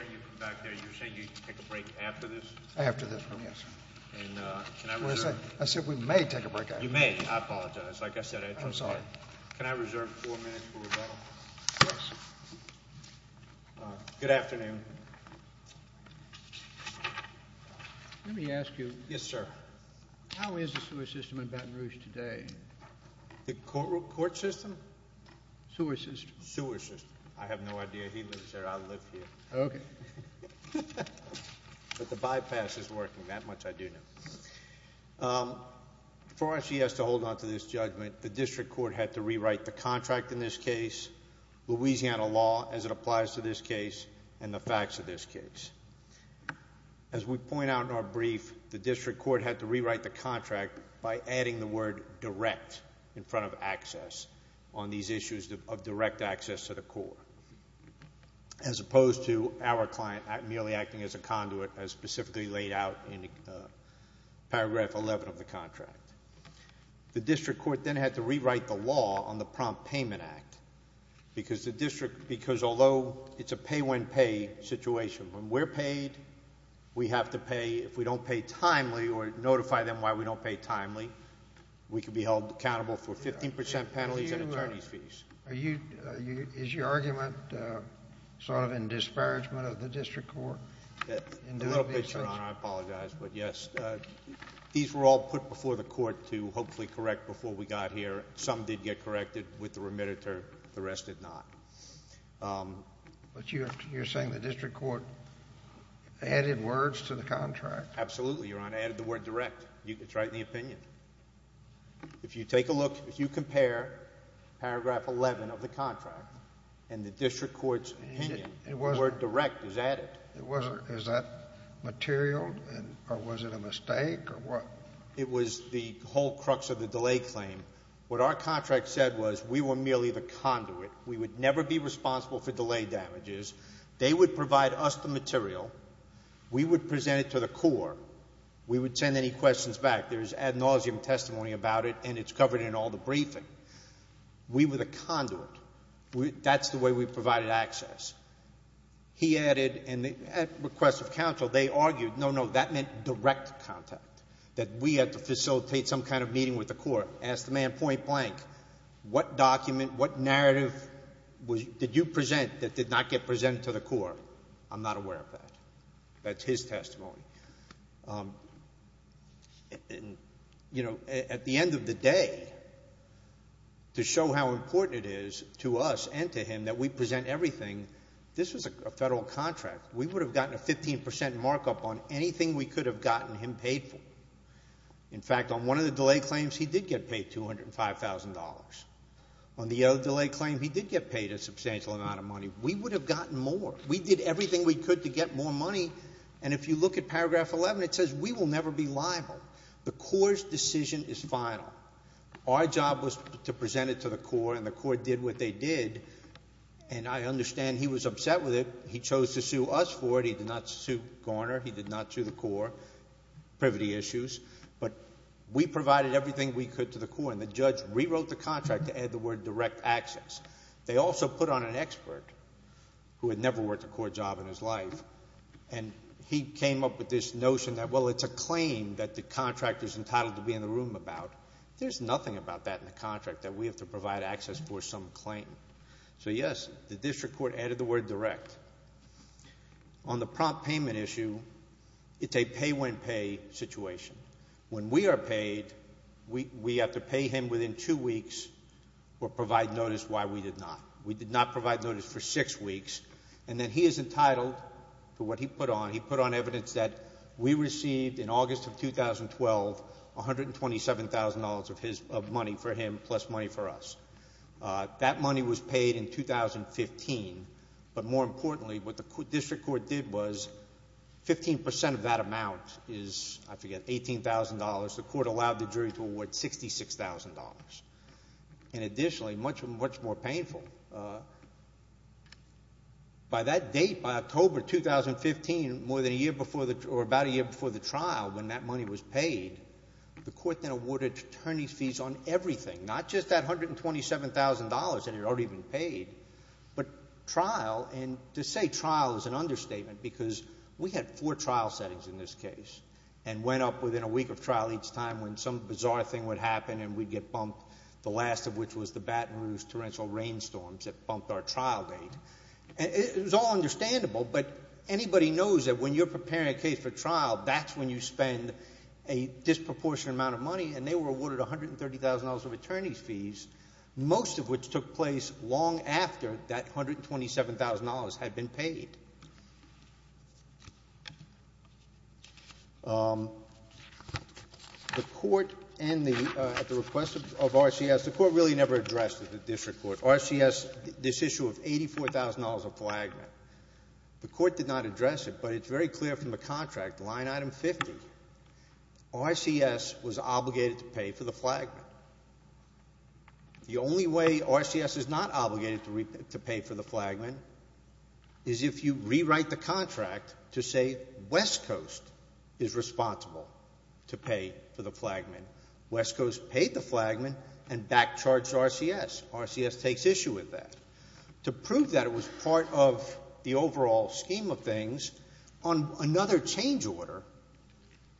You said you'd take a break after this? After this one, yes. I said we may take a break after this. You may. I apologize. Like I said, I had to... I'm sorry. Can I reserve four minutes for rebuttal? Yes. Good afternoon. Let me ask you... Yes, sir. How is the sewer system in Baton Rouge today? The court system? Sewer system. Sewer system. I have no idea. He lives there. I live here. Okay. But the bypass is working, that much I do know. For us, yes, to hold on to this judgment, the district court had to rewrite the contract in this case, Louisiana law as it applies to this case, and the facts of this case. As we point out in our brief, the district court had to rewrite the contract by adding the word direct in front of access on these issues of direct access to the core. As opposed to our client merely acting as a conduit as specifically laid out in paragraph 11 of the contract. The district court then had to rewrite the law on the prompt payment act because the district... Because although it's a pay-when-paid situation, when we're paid, we have to pay. If we don't pay timely or notify them why we don't pay timely, we can be held accountable for 15% penalties and attorney's fees. Is your argument sort of in disparagement of the district court? A little bit, Your Honor. I apologize. But, yes, these were all put before the court to hopefully correct before we got here. Some did get corrected with the remediator. The rest did not. But you're saying the district court added words to the contract? Absolutely, Your Honor. I added the word direct. It's right in the opinion. If you take a look, if you compare paragraph 11 of the contract and the district court's opinion, the word direct is added. Is that material? Or was it a mistake? It was the whole crux of the delay claim. What our contract said was we were merely the conduit. We would never be responsible for delay damages. They would provide us the material. We would present it to the core. We would send any questions back. There's ad nauseum testimony about it, and it's covered in all the briefing. We were the conduit. That's the way we provided access. He added, at request of counsel, they argued, no, no, that meant direct contact, that we had to facilitate some kind of meeting with the core. Ask the man point blank, what document, what narrative did you present that did not get presented to the core? I'm not aware of that. That's his testimony. You know, at the end of the day, to show how important it is to us and to him that we present everything, this was a federal contract. We would have gotten a 15% markup on anything we could have gotten him paid for. In fact, on one of the delay claims, he did get paid $205,000. On the other delay claim, he did get paid a substantial amount of money. We would have gotten more. We did everything we could to get more money, and if you look at paragraph 11, it says we will never be liable. The core's decision is final. Our job was to present it to the core, and the core did what they did, and I understand he was upset with it. He chose to sue us for it. He did not sue Garner. He did not sue the core. Privity issues. But we provided everything we could to the core, and the judge rewrote the contract to add the word direct access. They also put on an expert who had never worked a core job in his life, and he came up with this notion that, well, it's a claim that the contractor's entitled to be in the room about. There's nothing about that in the contract that we have to provide access for some claim. So, yes, the district court added the word direct. On the prompt payment issue, it's a pay-when-pay situation. When we are paid, we have to pay him within two weeks or provide notice why we did not. We did not provide notice for six weeks, and then he is entitled to what he put on. He put on evidence that we received in August of 2012 $127,000 of money for him plus money for us. That money was paid in 2015, but more importantly what the district court did was 15% of that amount is, I forget, $18,000. The court allowed the jury to award $66,000. Additionally, much more painful, by that date, by October 2015, about a year before the trial when that money was paid, the court then awarded attorney's fees on everything, not just that $127,000 that had already been paid, but trial. To say trial is an understatement because we had four trial settings in this case and went up within a week of trial each time when some bizarre thing would happen and we'd get bumped, the last of which was the Baton Rouge torrential rainstorms that bumped our trial date. It was all understandable, but anybody knows that when you're preparing a case for trial, that's when you spend a disproportionate amount of money, and they were awarded $130,000 of attorney's fees, most of which took place long after that $127,000 had been paid. The court, at the request of RCS, the court really never addressed the district court. RCS, this issue of $84,000 of flagment, the court did not address it, but it's very clear from the contract, line item 50, RCS was obligated to pay for the flagment. The only way RCS is not obligated to pay for the flagment is if you rewrite the contract to say West Coast is responsible to pay for the flagmen. West Coast paid the flagmen and back-charged RCS. RCS takes issue with that. To prove that it was part of the overall scheme of things, on another change order,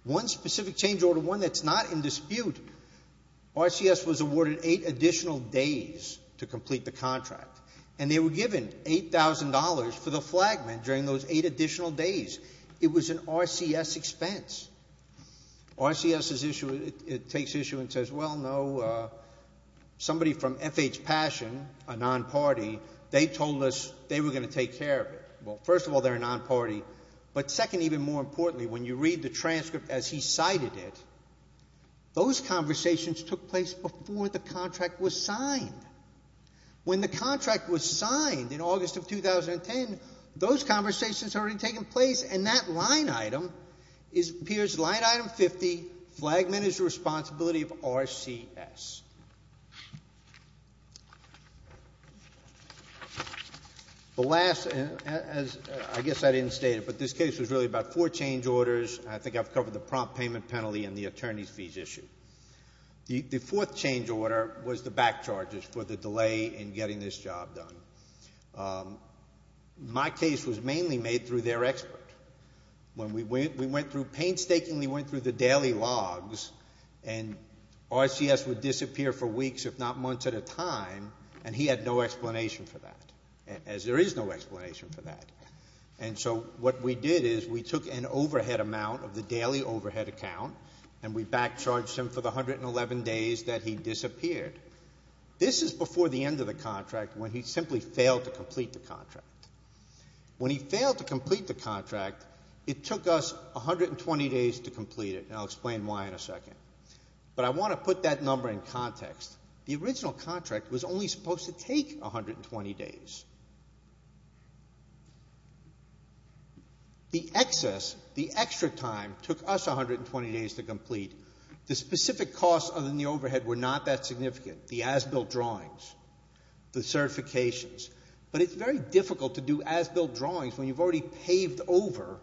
one specific change order, one that's not in dispute, RCS was awarded eight additional days to complete the contract, and they were given $8,000 for the flagmen during those eight additional days. It was an RCS expense. RCS takes issue and says, well, no, somebody from FH Passion, a non-party, they told us they were going to take care of it. Well, first of all, they're a non-party, but second, even more importantly, when you read the transcript as he cited it, those conversations took place before the contract was signed. When the contract was signed in August of 2010, those conversations had already taken place, and that line item appears, line item 50, flagmen is the responsibility of RCS. The last, as I guess I didn't state it, but this case was really about four change orders. I think I've covered the prompt payment penalty and the attorney's fees issue. The fourth change order was the back charges for the delay in getting this job done. My case was mainly made through their expert. When we went through, painstakingly went through the daily logs and RCS would disappear for weeks, if not months at a time, and he had no explanation for that, as there is no explanation for that. And so what we did is we took an overhead amount of the daily overhead account and we back charged him for the 111 days that he disappeared. This is before the end of the contract, when he simply failed to complete the contract. When he failed to complete the contract, it took us 120 days to complete it. And I'll explain why in a second, but I want to put that number in context. The original contract was only supposed to take 120 days. The excess, the extra time took us 120 days to complete. The specific costs other than the overhead were not that significant. The as-built drawings, the certifications, but it's very difficult to do as-built drawings when you've already paved over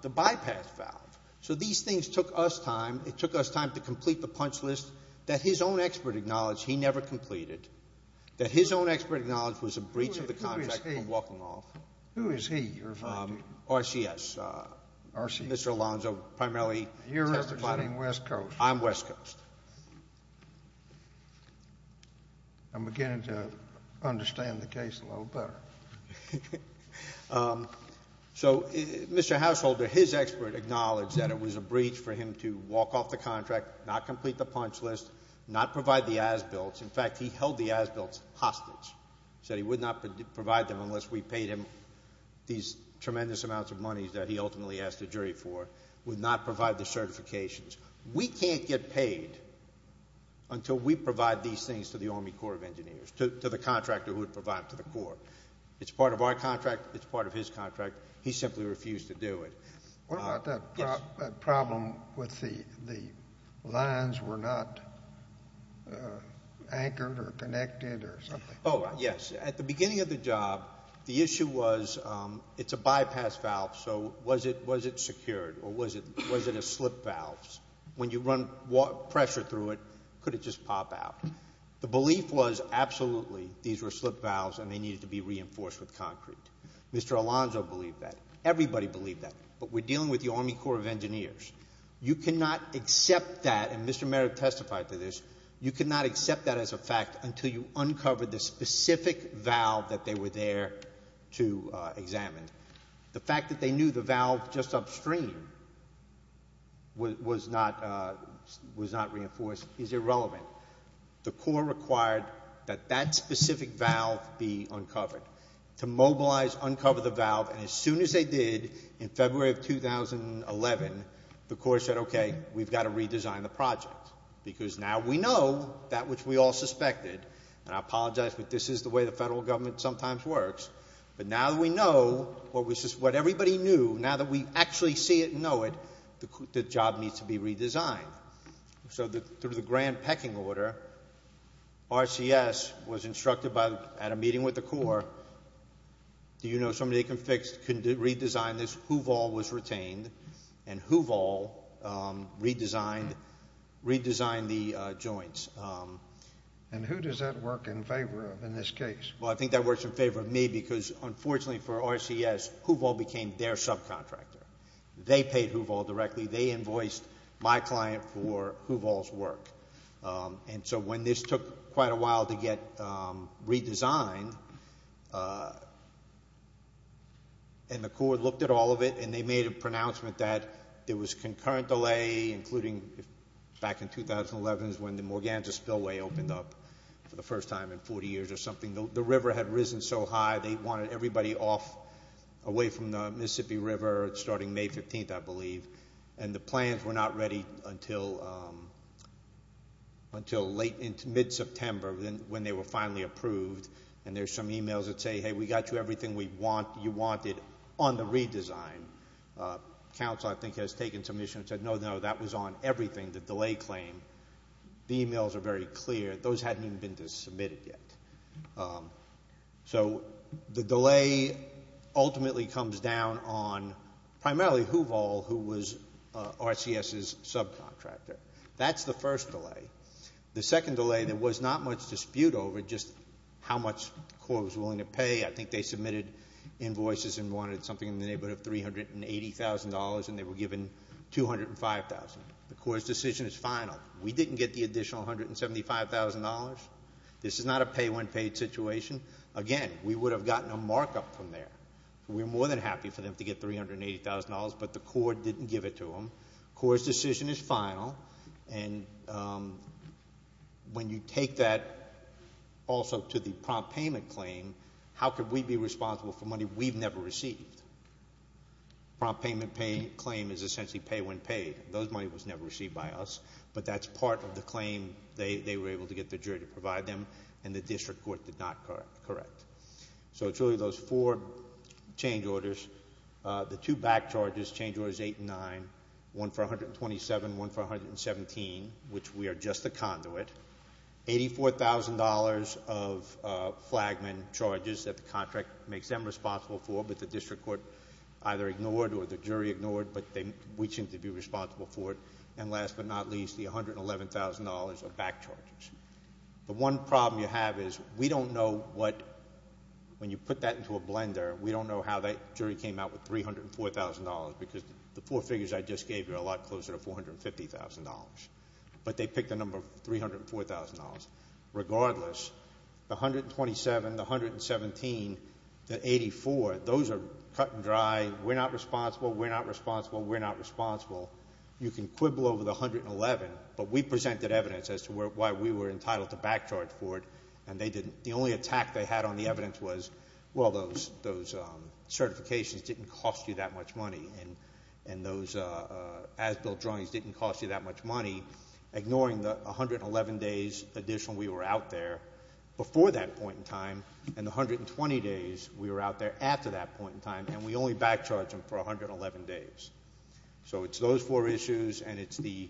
the bypass valve. So these things took us time. It took us time to complete the punch list that his own expert acknowledged he never completed, that his own expert acknowledged was a breach of the contract from walking off. Who is he you're referring to? RCS. RCS. Mr. Alonzo primarily. You're referring to West Coast. I'm West Coast. I'm beginning to understand the case a little better. So Mr. Householder, his expert acknowledged that it was a breach for him to walk off the contract, not complete the punch list, not provide the as-built. In fact, he held the as-built hostage, said he would not provide them unless we paid him these tremendous amounts of money that he ultimately asked the jury for, would not provide the certifications. We can't get paid until we provide these things to the Army Corps of Engineers, to the contractor who would provide it to the Corps. It's part of our contract. It's part of his contract. He simply refused to do it. What about that problem with the lines were not anchored or connected or something? Oh, yes. At the beginning of the job, the issue was it's a bypass valve, so was it secured or was it a slip valve? When you run pressure through it, could it just pop out? The belief was absolutely these were slip valves, and they needed to be reinforced with concrete. Mr. Alonzo believed that. Everybody believed that. But we're dealing with the Army Corps of Engineers. You cannot accept that, and Mr. Merrick testified to this, you cannot accept that as a fact until you uncover the specific valve that they were there to examine. The fact that they knew the valve just upstream was not reinforced is irrelevant. The Corps required that that specific valve be uncovered. To mobilize, uncover the valve, and as soon as they did in February of 2011, the Corps said, okay, we've got to redesign the project, because now we know that which we all suspected, and I apologize, but this is the way the federal government sometimes works. But now that we know what everybody knew, now that we actually see it and know it, the job needs to be redesigned. So through the grand pecking order, RCS was instructed at a meeting with the Corps, do you know somebody that can redesign this? Hooval was retained, and Hooval redesigned the joints. And who does that work in favor of in this case? Well, I think that works in favor of me, because unfortunately for RCS, Hooval became their subcontractor. They paid Hooval directly. They invoiced my client for Hooval's work. And so when this took quite a while to get redesigned, and the Corps looked at all of it, and they made a pronouncement that there was concurrent delay, including back in 2011 is when the Morganza spillway opened up for the first time in 40 years or something. The river had risen so high they wanted everybody off, away from the Mississippi River starting May 15th, I believe. And the plans were not ready until mid-September when they were finally approved. And there's some e-mails that say, hey, we got you everything you wanted on the redesign. Council, I think, has taken some issue and said, no, no, that was on everything, the delay claim. The e-mails are very clear. Those hadn't even been submitted yet. So the delay ultimately comes down on primarily Hooval, who was RCS's subcontractor. That's the first delay. The second delay, there was not much dispute over just how much the Corps was willing to pay. I think they submitted invoices and wanted something in the neighborhood of $380,000, and they were given $205,000. The Corps' decision is final. We didn't get the additional $175,000. This is not a pay-when-paid situation. Again, we would have gotten a markup from there. We're more than happy for them to get $380,000, but the Corps didn't give it to them. Corps' decision is final. And when you take that also to the prompt payment claim, how could we be responsible for money we've never received? Prompt payment claim is essentially pay-when-paid. Those money was never received by us, but that's part of the claim they were able to get the jury to provide them, and the district court did not correct. So it's really those four change orders. The two back charges, change orders 8 and 9, one for 127, one for 117, which we are just the conduit, $84,000 of flagman charges that the contract makes them responsible for, but the district court either ignored or the jury ignored, but we seem to be responsible for it. And last but not least, the $111,000 of back charges. The one problem you have is we don't know what, when you put that into a blender, we don't know how that jury came out with $304,000 because the four figures I just gave you are a lot closer to $450,000, but they picked a number of $304,000. Regardless, the 127, the 117, the 84, those are cut and dry. We're not responsible. We're not responsible. We're not responsible. You can quibble over the 111, but we presented evidence as to why we were entitled to back charge for it, and they didn't. The only attack they had on the evidence was, well, those certifications didn't cost you that much money and those as-built drawings didn't cost you that much money, ignoring the 111 days additional we were out there before that point in time and the 120 days we were out there after that point in time, and we only back charged them for 111 days. So it's those four issues and it's the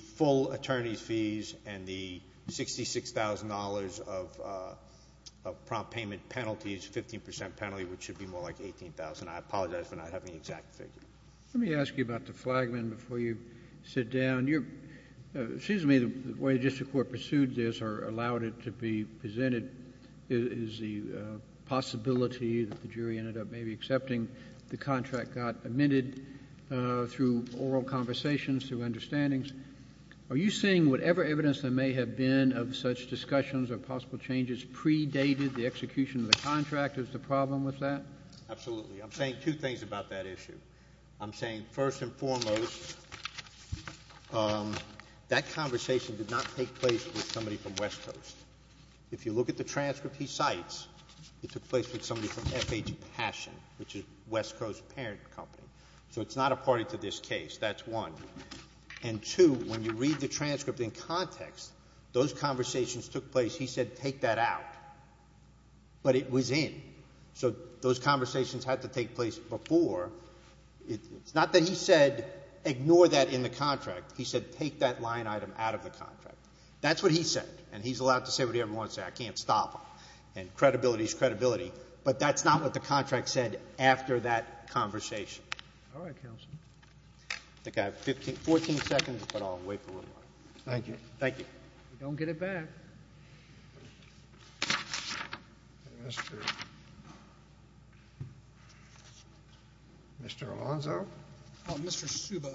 full attorney's fees and the $66,000 of prompt payment penalties, 15% penalty, which should be more like $18,000. I apologize for not having the exact figure. Let me ask you about the flagman before you sit down. It seems to me the way the district court pursued this or allowed it to be presented is the possibility that the jury ended up maybe accepting the contract got amended through oral conversations, through understandings. Are you saying whatever evidence there may have been of such discussions or possible changes predated the execution of the contract? Is the problem with that? Absolutely. I'm saying two things about that issue. I'm saying, first and foremost, that conversation did not take place with somebody from West Coast. If you look at the transcript he cites, it took place with somebody from FH Passion, which is West Coast Parent Company. So it's not a party to this case. That's one. And two, when you read the transcript in context, those conversations took place. He said take that out. But it was in. So those conversations had to take place before. It's not that he said ignore that in the contract. He said take that line item out of the contract. That's what he said. And he's allowed to say whatever he wants to say. I can't stop him. And credibility is credibility. But that's not what the contract said after that conversation. All right, counsel. I think I have 14 seconds, but I'll wait for one more. Thank you. Thank you. Don't get it back. Mr. Alonzo. Mr. Suba.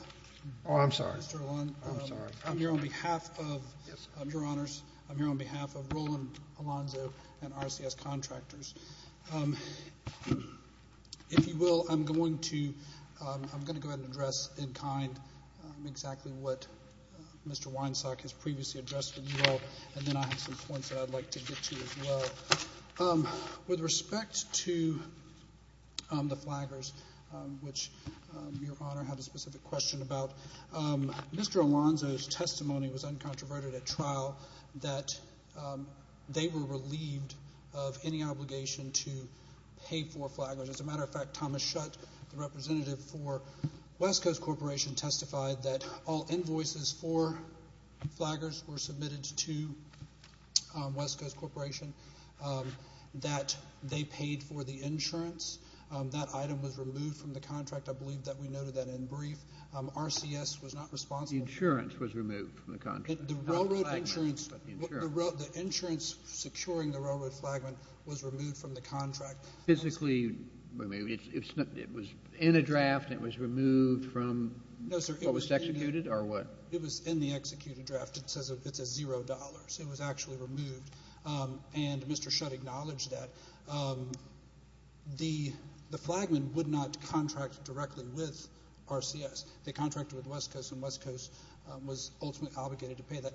Oh, I'm sorry. Mr. Alonzo. I'm sorry. I'm here on behalf of your honors. I'm here on behalf of Roland Alonzo and RCS contractors. If you will, I'm going to go ahead and address in kind exactly what Mr. Weinsack has previously addressed to you all, and then I have some points that I'd like to get to as well. With respect to the flaggers, which your honor had a specific question about, Mr. Alonzo's testimony was uncontroverted at trial, that they were relieved of any obligation to pay for flaggers. As a matter of fact, Thomas Schutt, the representative for West Coast Corporation, testified that all invoices for flaggers were submitted to West Coast Corporation, that they paid for the insurance. That item was removed from the contract. I believe that we noted that in brief. RCS was not responsible. The insurance was removed from the contract. The railroad insurance. The insurance securing the railroad flagman was removed from the contract. Physically removed. It was in a draft and it was removed from what was executed or what? It was in the executed draft. It says $0. It was actually removed. And Mr. Schutt acknowledged that the flagman would not contract directly with RCS. They contracted with West Coast, and West Coast was ultimately obligated to pay that.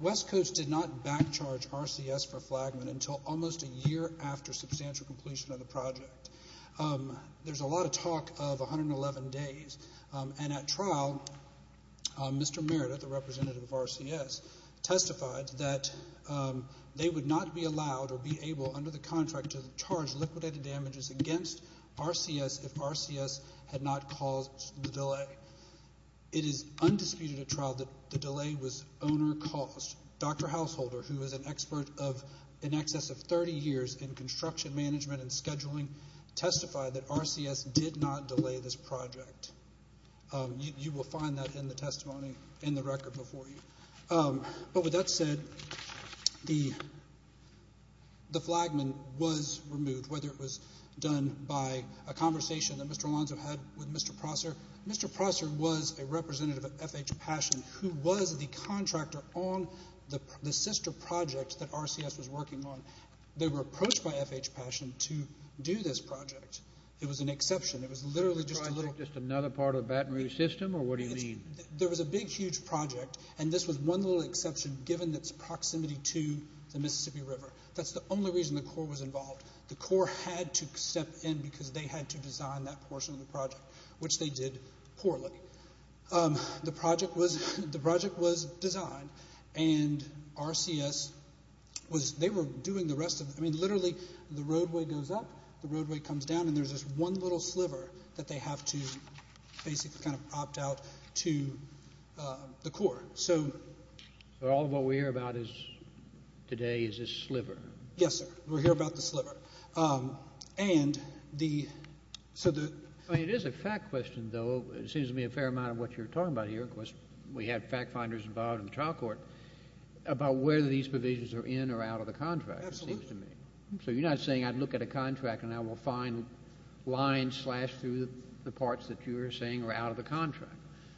West Coast did not back charge RCS for flagman until almost a year after substantial completion of the project. There's a lot of talk of 111 days. And at trial, Mr. Merida, the representative of RCS, testified that they would not be allowed or be able under the contract to charge liquidated damages against RCS if RCS had not caused the delay. It is undisputed at trial that the delay was owner-caused. Dr. Householder, who is an expert of in excess of 30 years in construction management and scheduling, testified that RCS did not delay this project. You will find that in the testimony in the record before you. But with that said, the flagman was removed, whether it was done by a conversation that Mr. Alonzo had with Mr. Prosser. Mr. Prosser was a representative of FH Passion, who was the contractor on the sister project that RCS was working on. They were approached by FH Passion to do this project. It was an exception. It was literally just a little- Just another part of the Baton Rouge system, or what do you mean? There was a big, huge project, and this was one little exception given its proximity to the Mississippi River. That's the only reason the Corps was involved. The Corps had to step in because they had to design that portion of the project, which they did poorly. The project was designed, and RCS was doing the rest of it. I mean, literally, the roadway goes up, the roadway comes down, and there's this one little sliver that they have to basically opt out to the Corps. So all of what we hear about today is this sliver. Yes, sir. We hear about the sliver. It is a fact question, though. It seems to be a fair amount of what you're talking about here. Of course, we have fact finders involved in the trial court about whether these provisions are in or out of the contract, it seems to me. Absolutely. So you're not saying I'd look at a contract and I will find lines slashed through the parts that you are saying are out of the contract.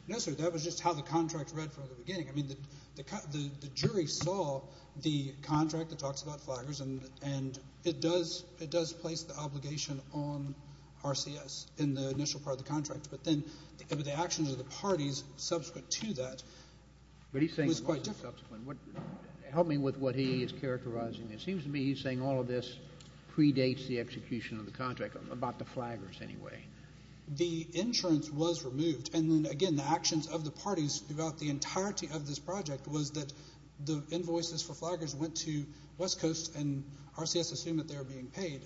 No, sir. That was just how the contract read from the beginning. I mean, the jury saw the contract that talks about flaggers, but then the actions of the parties subsequent to that was quite different. Help me with what he is characterizing. It seems to me he's saying all of this predates the execution of the contract, about the flaggers anyway. The insurance was removed, and then, again, the actions of the parties throughout the entirety of this project was that the invoices for flaggers went to West Coast and RCS assumed that they were being paid.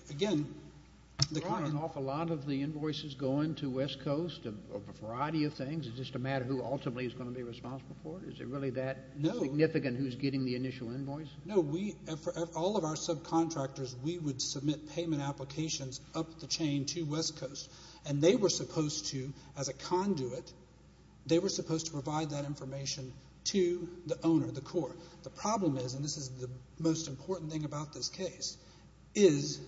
Brian, an awful lot of the invoices go into West Coast, a variety of things. Is it just a matter of who ultimately is going to be responsible for it? Is it really that significant who is getting the initial invoice? No. All of our subcontractors, we would submit payment applications up the chain to West Coast, and they were supposed to, as a conduit, they were supposed to provide that information to the owner, the court. The problem is, and this is the most important thing about this case, is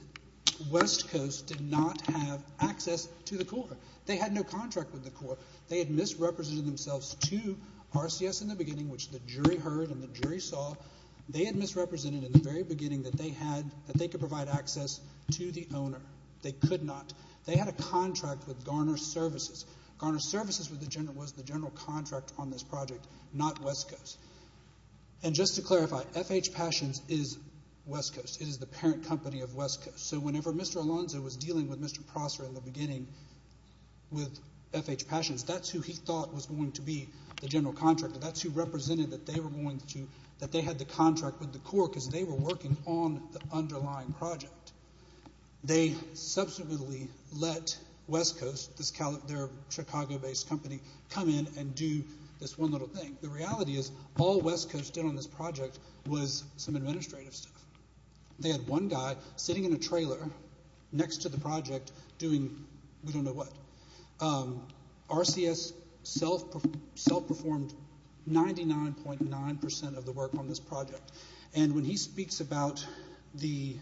West Coast did not have access to the court. They had no contract with the court. They had misrepresented themselves to RCS in the beginning, which the jury heard and the jury saw. They had misrepresented in the very beginning that they could provide access to the owner. They could not. They had a contract with Garner Services. Garner Services was the general contract on this project, not West Coast. And just to clarify, F.H. Passions is West Coast. It is the parent company of West Coast. So whenever Mr. Alonzo was dealing with Mr. Prosser in the beginning with F.H. Passions, that's who he thought was going to be the general contractor. That's who represented that they had the contract with the court because they were working on the underlying project. They subsequently let West Coast, their Chicago-based company, come in and do this one little thing. The reality is all West Coast did on this project was some administrative stuff. They had one guy sitting in a trailer next to the project doing we don't know what. RCS self-performed 99.9% of the work on this project. And when he speaks about the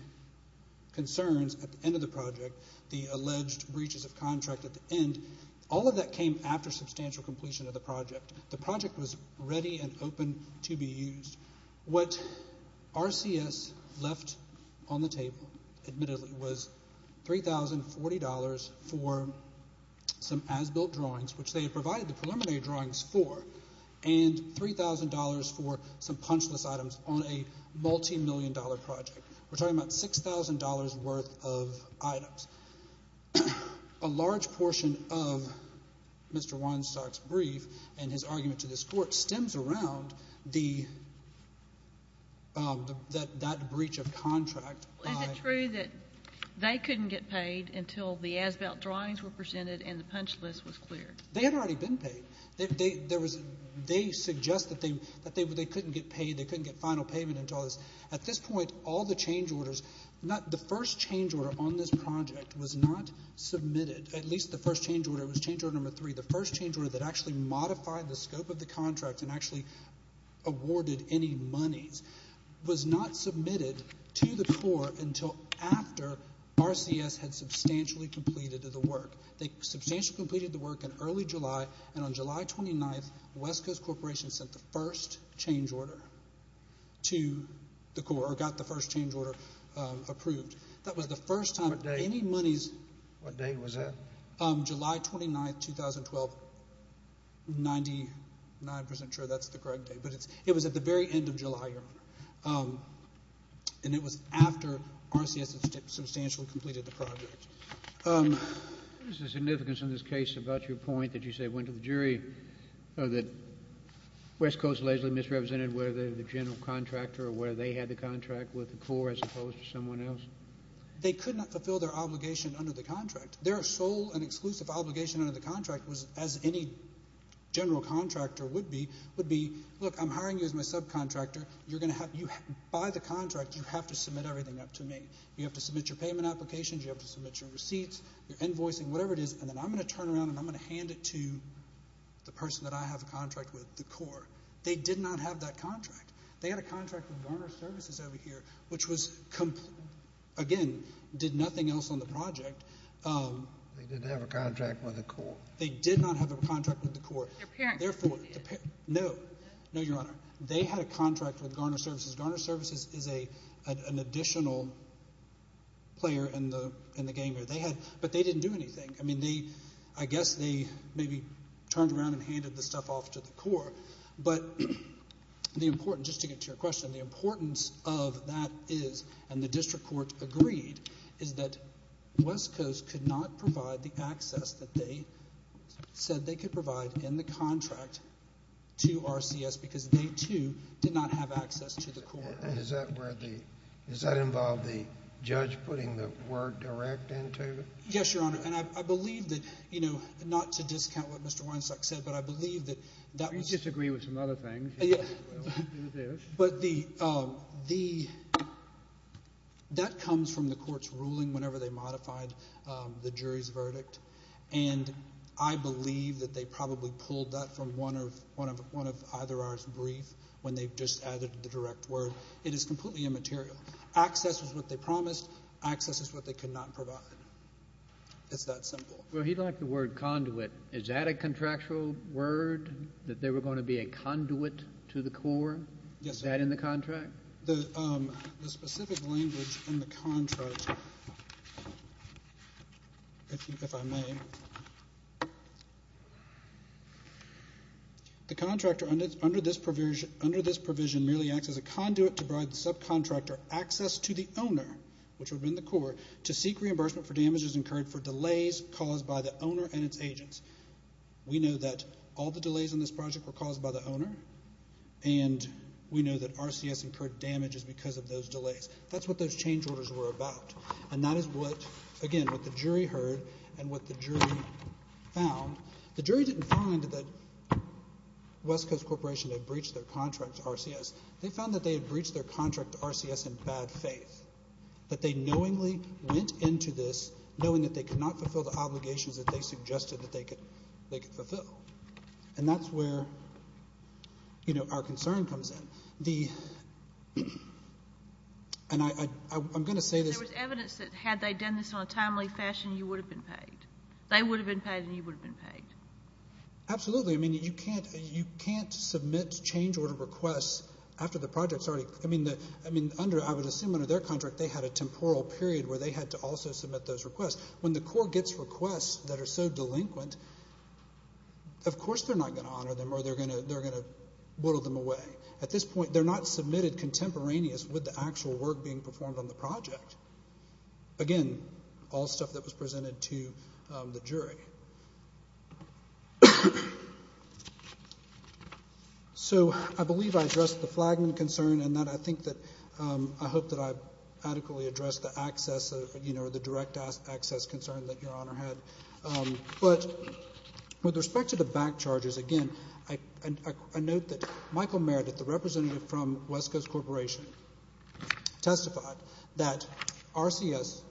concerns at the end of the project, the alleged breaches of contract at the end, all of that came after substantial completion of the project. The project was ready and open to be used. What RCS left on the table, admittedly, was $3,040 for some as-built drawings, which they had provided the preliminary drawings for, and $3,000 for some punchless items on a multimillion-dollar project. We're talking about $6,000 worth of items. A large portion of Mr. Weinstock's brief and his argument to this court stems around that breach of contract. Is it true that they couldn't get paid until the as-built drawings were presented and the punchless was cleared? They had already been paid. They suggest that they couldn't get paid, they couldn't get final payment until this. At this point, all the change orders, the first change order on this project was not submitted. At least the first change order was change order number three. The first change order that actually modified the scope of the contract and actually awarded any monies was not submitted to the court until after RCS had substantially completed the work. They substantially completed the work in early July, and on July 29th, West Coast Corporation sent the first change order to the court or got the first change order approved. That was the first time any monies. What date was that? July 29th, 2012. Ninety-nine percent sure that's the correct date, but it was at the very end of July, Your Honor, and it was after RCS had substantially completed the project. What is the significance in this case about your point that you say went to the jury that West Coast lazily misrepresented whether they're the general contractor or whether they had the contract with the Corps as opposed to someone else? They could not fulfill their obligation under the contract. Their sole and exclusive obligation under the contract was, as any general contractor would be, would be, look, I'm hiring you as my subcontractor. By the contract, you have to submit everything up to me. You have to submit your payment applications. You have to submit your receipts, your invoicing, whatever it is, and then I'm going to turn around and I'm going to hand it to the person that I have a contract with, the Corps. They did not have that contract. They had a contract with Garner Services over here, which was, again, did nothing else on the project. They didn't have a contract with the Corps. They did not have a contract with the Corps. Their parents did. No. No, Your Honor. They had a contract with Garner Services. Garner Services is an additional player in the game here. But they didn't do anything. I mean, I guess they maybe turned around and handed the stuff off to the Corps. But the importance, just to get to your question, the importance of that is, and the district court agreed, is that West Coast could not provide the access that they said they could provide in the contract to RCS because they, too, did not have access to the Corps. And is that where the ‑‑ does that involve the judge putting the word direct into it? Yes, Your Honor. And I believe that, you know, not to discount what Mr. Weinstock said, but I believe that that was ‑‑ We disagree with some other things. But the ‑‑ that comes from the court's ruling whenever they modified the jury's verdict. And I believe that they probably pulled that from one of either of our briefs when they just added the direct word. It is completely immaterial. Access is what they promised. Access is what they could not provide. It's that simple. Well, he liked the word conduit. Is that a contractual word, that there were going to be a conduit to the Corps? Yes, sir. Is that in the contract? The specific language in the contract, if I may, the contractor under this provision merely acts as a conduit to provide the subcontractor access to the owner, which would have been the Corps, to seek reimbursement for damages incurred for delays caused by the owner and its agents. We know that all the delays in this project were caused by the owner, and we know that RCS incurred damages because of those delays. That's what those change orders were about. And that is what, again, what the jury heard and what the jury found. The jury didn't find that West Coast Corporation had breached their contract to RCS. They found that they had breached their contract to RCS in bad faith, that they knowingly went into this knowing that they could not fulfill the obligations that they suggested that they could fulfill. And that's where, you know, our concern comes in. And I'm going to say this. If there was evidence that had they done this in a timely fashion, you would have been paid. They would have been paid and you would have been paid. Absolutely. I mean, you can't submit change order requests after the project's already – I mean, I would assume under their contract they had a temporal period where they had to also submit those requests. When the court gets requests that are so delinquent, of course they're not going to honor them or they're going to whittle them away. At this point, they're not submitted contemporaneous with the actual work being performed on the project. Again, all stuff that was presented to the jury. So I believe I addressed the flagman concern, and I think that I hope that I've adequately addressed the access, you know, the direct access concern that Your Honor had. But with respect to the back charges, again, I note that Michael Merritt, the representative from West Coast Corporation, testified that RCS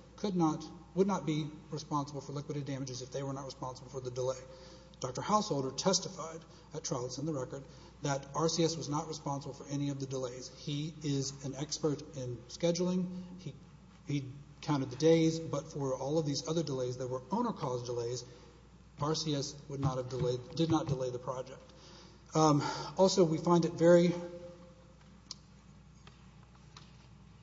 would not be responsible for liquidated damages if they were not responsible for the delay. Dr. Haushalter testified at trial that's in the record that RCS was not responsible for any of the delays. He is an expert in scheduling. He counted the days, but for all of these other delays that were owner-caused delays, RCS did not delay the project. Also, we find it very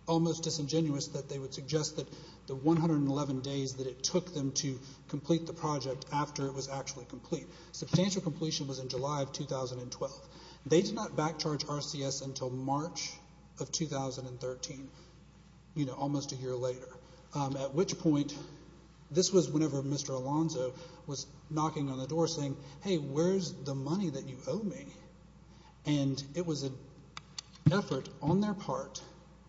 almost disingenuous that they would suggest that the 111 days that it took them to complete the project after it was actually complete. Substantial completion was in July of 2012. They did not back charge RCS until March of 2013, you know, almost a year later, at which point this was whenever Mr. Alonzo was knocking on the door saying, hey, where's the money that you owe me? And it was an effort on their part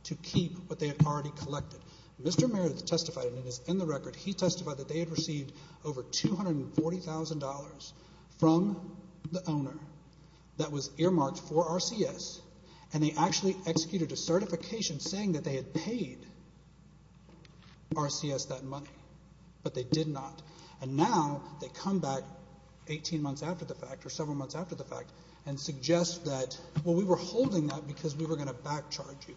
to keep what they had already collected. Mr. Merritt testified, and it is in the record, he testified that they had received over $240,000 from the owner that was earmarked for RCS, and they actually executed a certification saying that they had paid RCS that money, but they did not. And now they come back 18 months after the fact or several months after the fact and suggest that, well, we were holding that because we were going to back charge you.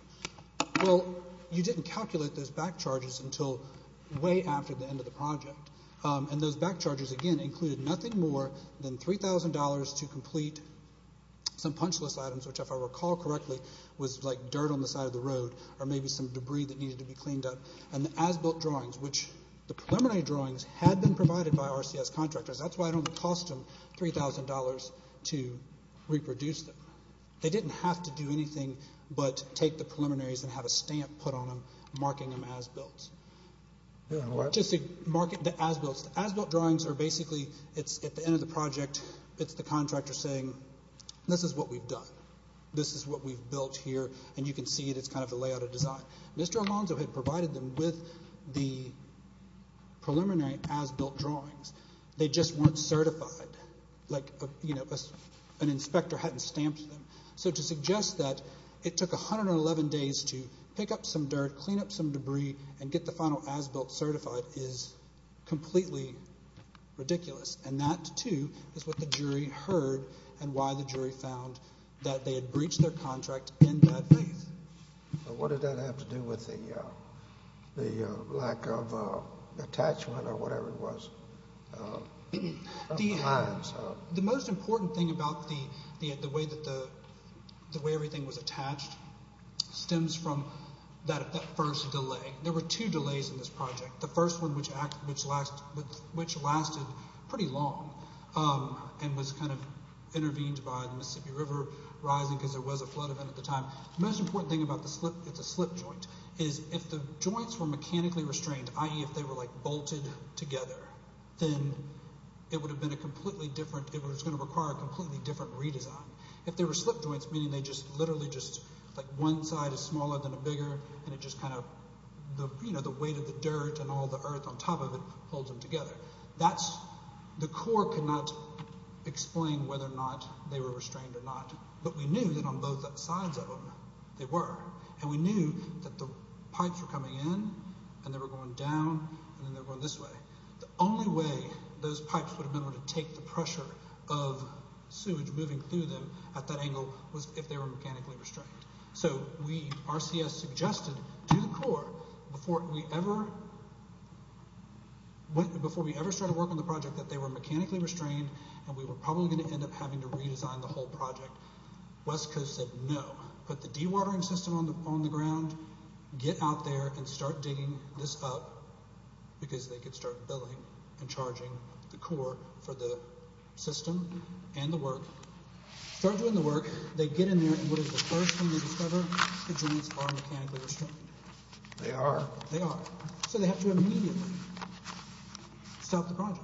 Well, you didn't calculate those back charges until way after the end of the project, and those back charges, again, included nothing more than $3,000 to complete some punchless items, which if I recall correctly was like dirt on the side of the road or maybe some debris that needed to be cleaned up, and the as-built drawings, which the preliminary drawings had been provided by RCS contractors. That's why it only cost them $3,000 to reproduce them. They didn't have to do anything but take the preliminaries and have a stamp put on them marking them as-built. Just to mark it as-built. As-built drawings are basically, at the end of the project, it's the contractor saying, this is what we've done, this is what we've built here, and you can see it. It's kind of the layout of design. Mr. Alonzo had provided them with the preliminary as-built drawings. They just weren't certified. Like, you know, an inspector hadn't stamped them. So to suggest that it took 111 days to pick up some dirt, clean up some debris, and get the final as-built certified is completely ridiculous, and that, too, is what the jury heard and why the jury found that they had breached their contract in that phase. What did that have to do with the lack of attachment or whatever it was? The most important thing about the way everything was attached stems from that first delay. There were two delays in this project, the first one which lasted pretty long and was kind of intervened by the Mississippi River rising because there was a flood event at the time. The most important thing about the slip, it's a slip joint, is if the joints were mechanically restrained, i.e. if they were, like, bolted together, then it would have been a completely different, it was going to require a completely different redesign. If they were slip joints, meaning they just literally just, like, one side is smaller than a bigger, and it just kind of, you know, the weight of the dirt and all the earth on top of it holds them together. That's, the Corps could not explain whether or not they were restrained or not, but we knew that on both sides of them they were, and we knew that the pipes were coming in, and they were going down, and then they were going this way. The only way those pipes would have been able to take the pressure of sewage moving through them at that angle was if they were mechanically restrained. So we, RCS, suggested to the Corps before we ever, before we ever started working on the project that they were mechanically restrained, and we were probably going to end up having to redesign the whole project. West Coast said no. Put the dewatering system on the ground, get out there, and start digging this up because they could start billing and charging the Corps for the system and the work. Start doing the work. They get in there, and what is the first thing they discover? The joints are mechanically restrained. They are. They are. So they have to immediately stop the project.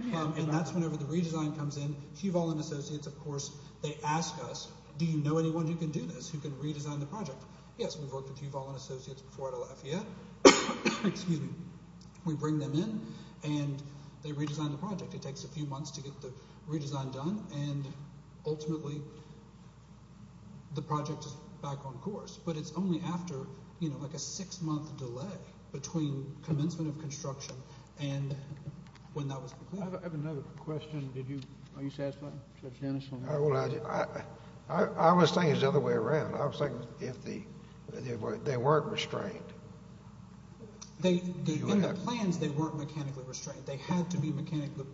And that's whenever the redesign comes in. Hugh Vaughan Associates, of course, they ask us, do you know anyone who can do this, who can redesign the project? Yes, we've worked with Hugh Vaughan Associates before at Lafayette. Excuse me. We bring them in, and they redesign the project. It takes a few months to get the redesign done, and ultimately the project is back on course. But it's only after, you know, like a six-month delay between commencement of construction and when that was completed. I have another question. Are you satisfied, Judge Dennis? I was thinking the other way around. I was thinking if they weren't restrained. In the plans, they weren't mechanically restrained. They had to be mechanically.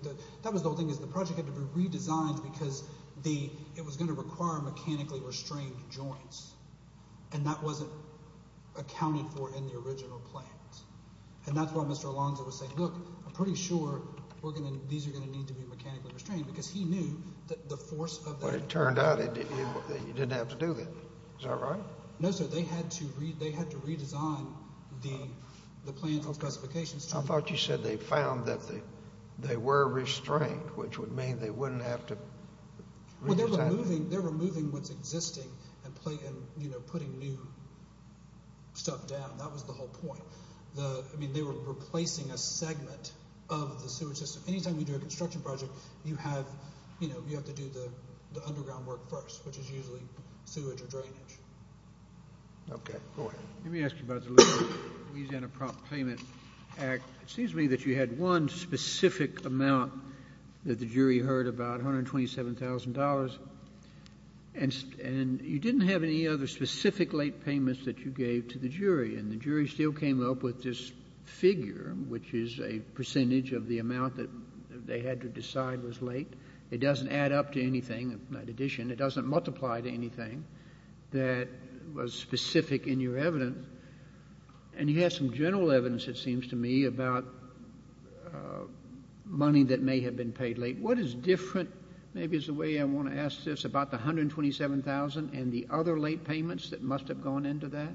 That was the whole thing is the project had to be redesigned because it was going to require mechanically restrained joints, and that wasn't accounted for in the original plans. And that's why Mr. Alonzo was saying, look, I'm pretty sure these are going to need to be mechanically restrained because he knew that the force of the— But it turned out you didn't have to do that. Is that right? No, sir. They had to redesign the plans and specifications. I thought you said they found that they were restrained, which would mean they wouldn't have to redesign it. They're removing what's existing and putting new stuff down. That was the whole point. They were replacing a segment of the sewage system. Anytime you do a construction project, you have to do the underground work first, which is usually sewage or drainage. Okay, go ahead. Let me ask you about the Louisiana Prop Payment Act. It seems to me that you had one specific amount that the jury heard, about $127,000, and you didn't have any other specific late payments that you gave to the jury, and the jury still came up with this figure, which is a percentage of the amount that they had to decide was late. It doesn't add up to anything, not addition. It doesn't multiply to anything that was specific in your evidence. And you had some general evidence, it seems to me, about money that may have been paid late. What is different, maybe is the way I want to ask this, about the $127,000 and the other late payments that must have gone into that?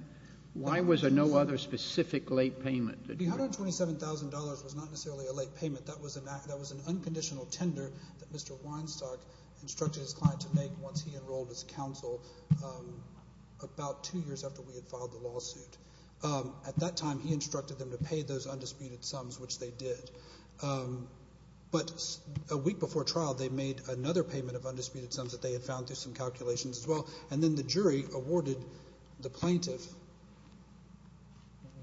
Why was there no other specific late payment? The $127,000 was not necessarily a late payment. That was an unconditional tender that Mr. Weinstock instructed his client to make once he enrolled his counsel about two years after we had filed the lawsuit. At that time, he instructed them to pay those undisputed sums, which they did. But a week before trial, they made another payment of undisputed sums that they had found through some calculations as well, and then the jury awarded the plaintiff.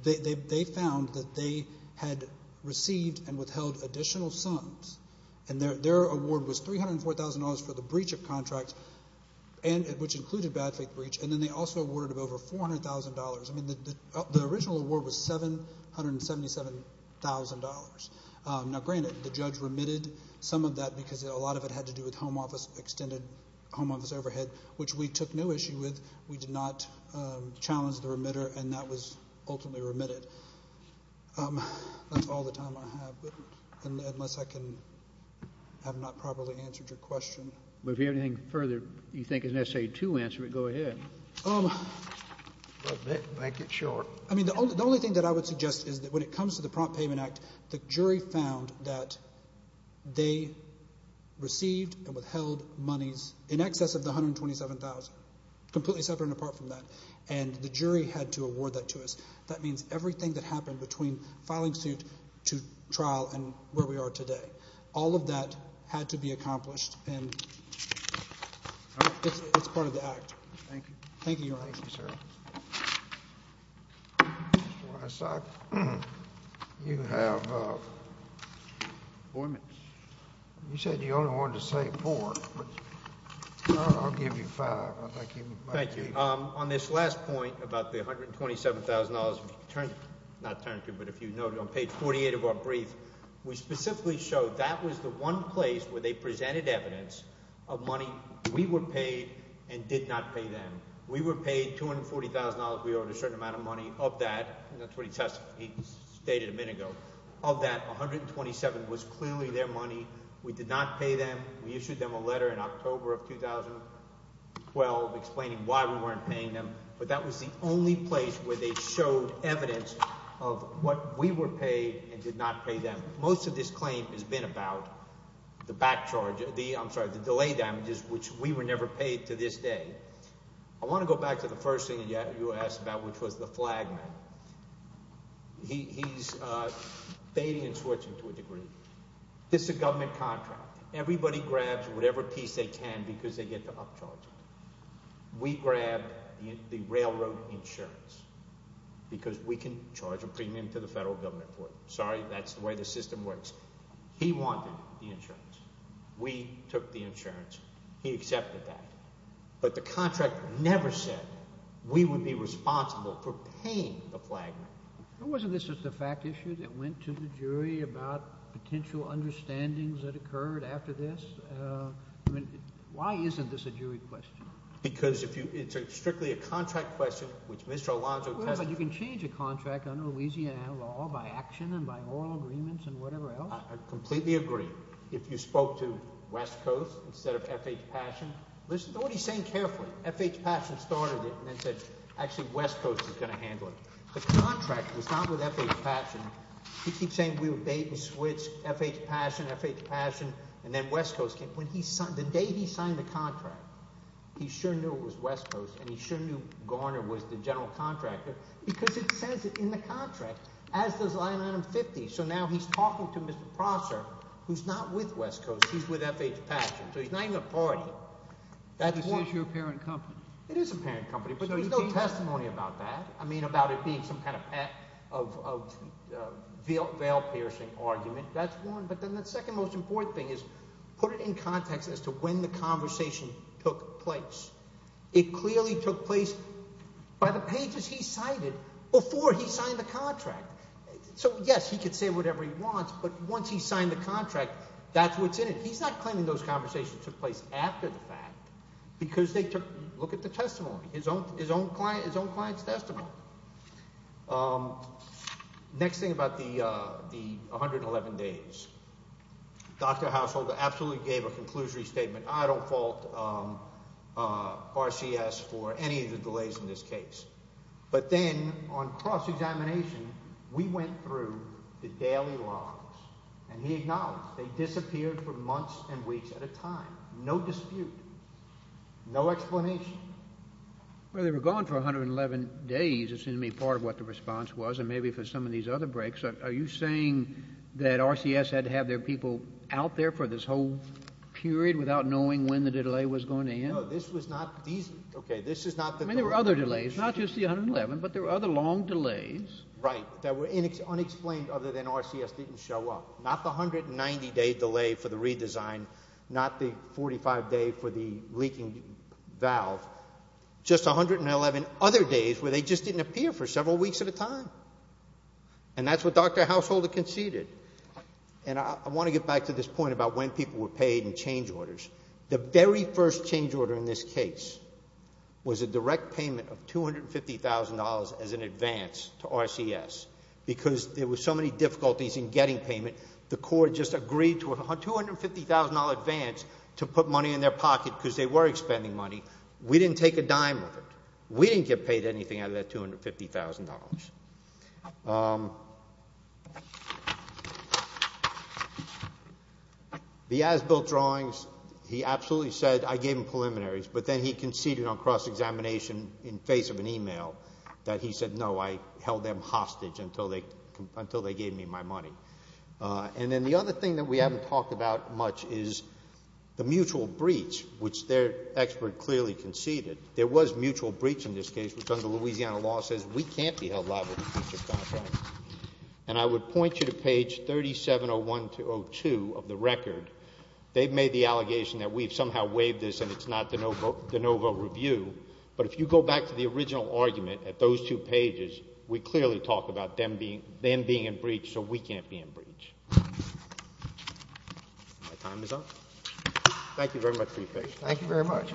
They found that they had received and withheld additional sums, and their award was $304,000 for the breach of contract, which included bad faith breach, and then they also awarded over $400,000. I mean, the original award was $777,000. Now, granted, the judge remitted some of that because a lot of it had to do with home office, extended home office overhead, which we took no issue with. We did not challenge the remitter, and that was ultimately remitted. That's all the time I have, unless I have not properly answered your question. Well, if you have anything further you think is necessary to answer it, go ahead. I'll make it short. I mean, the only thing that I would suggest is that when it comes to the Prompt Payment Act, the jury found that they received and withheld monies in excess of the $127,000, completely separate and apart from that, and the jury had to award that to us. That means everything that happened between filing suit to trial and where we are today. All of that had to be accomplished, and it's part of the act. Thank you. Thank you, Your Honor. Thank you, sir. Mr. Weissach, you have appointments. You said you only wanted to say four, but I'll give you five. Thank you. On this last point about the $127,000, not turn it to you, but if you note on page 48 of our brief, we specifically show that was the one place where they presented evidence of money we were paid and did not pay them. We were paid $240,000. We owed a certain amount of money of that. That's what he stated a minute ago. Of that, $127,000 was clearly their money. We did not pay them. We issued them a letter in October of 2012 explaining why we weren't paying them, but that was the only place where they showed evidence of what we were paid and did not pay them. Most of this claim has been about the back charge – I'm sorry, the delay damages, which we were never paid to this day. I want to go back to the first thing you asked about, which was the flag man. He's fading and switching to a degree. This is a government contract. Everybody grabs whatever piece they can because they get to upcharge it. We grabbed the railroad insurance because we can charge a premium to the federal government for it. Sorry, that's the way the system works. He wanted the insurance. We took the insurance. He accepted that, but the contract never said we would be responsible for paying the flag man. Wasn't this just a fact issue that went to the jury about potential understandings that occurred after this? Why isn't this a jury question? Because it's strictly a contract question, which Mr. Alonzo tested. But you can change a contract under Louisiana law by action and by oral agreements and whatever else. I completely agree. If you spoke to West Coast instead of F.H. Passion, listen to what he's saying carefully. F.H. Passion started it and then said actually West Coast is going to handle it. The contract was not with F.H. Passion. He keeps saying we would bait and switch F.H. Passion, F.H. Passion, and then West Coast came. The day he signed the contract, he sure knew it was West Coast and he sure knew Garner was the general contractor because it says it in the contract, as does line item 50. So now he's talking to Mr. Prosser, who's not with West Coast. He's with F.H. Passion, so he's not even a party. This is your parent company. It is a parent company, but there's no testimony about that. I mean about it being some kind of veil-piercing argument. That's one, but then the second most important thing is put it in context as to when the conversation took place. It clearly took place by the pages he cited before he signed the contract. So, yes, he could say whatever he wants, but once he signed the contract, that's what's in it. He's not claiming those conversations took place after the fact because they took – look at the testimony, his own client's testimony. Next thing about the 111 days, Dr. Haushalter absolutely gave a conclusory statement. I don't fault RCS for any of the delays in this case, but then on cross-examination, we went through the daily logs, and he acknowledged. They disappeared for months and weeks at a time, no dispute, no explanation. Well, they were gone for 111 days. It seemed to me part of what the response was, and maybe for some of these other breaks. Are you saying that RCS had to have their people out there for this whole period without knowing when the delay was going to end? No, this was not – okay, this is not the – I mean there were other delays, not just the 111, but there were other long delays. Right, that were unexplained other than RCS didn't show up. Not the 190-day delay for the redesign, not the 45-day for the leaking valve, just 111 other days where they just didn't appear for several weeks at a time. And that's what Dr. Haushalter conceded. And I want to get back to this point about when people were paid and change orders. The very first change order in this case was a direct payment of $250,000 as an advance to RCS because there were so many difficulties in getting payment. The court just agreed to a $250,000 advance to put money in their pocket because they were expending money. We didn't take a dime of it. We didn't get paid anything out of that $250,000. The Asbilt drawings, he absolutely said, I gave him preliminaries, but then he conceded on cross-examination in face of an e-mail that he said no, I held them hostage until they gave me my money. And then the other thing that we haven't talked about much is the mutual breach, which their expert clearly conceded. There was mutual breach in this case, which under Louisiana law says we can't be held liable to breach of contract. And I would point you to page 3701-02 of the record. They've made the allegation that we've somehow waived this and it's not de novo review. But if you go back to the original argument at those two pages, we clearly talk about them being in breach so we can't be in breach. My time is up. Thank you very much for your patience. Thank you very much.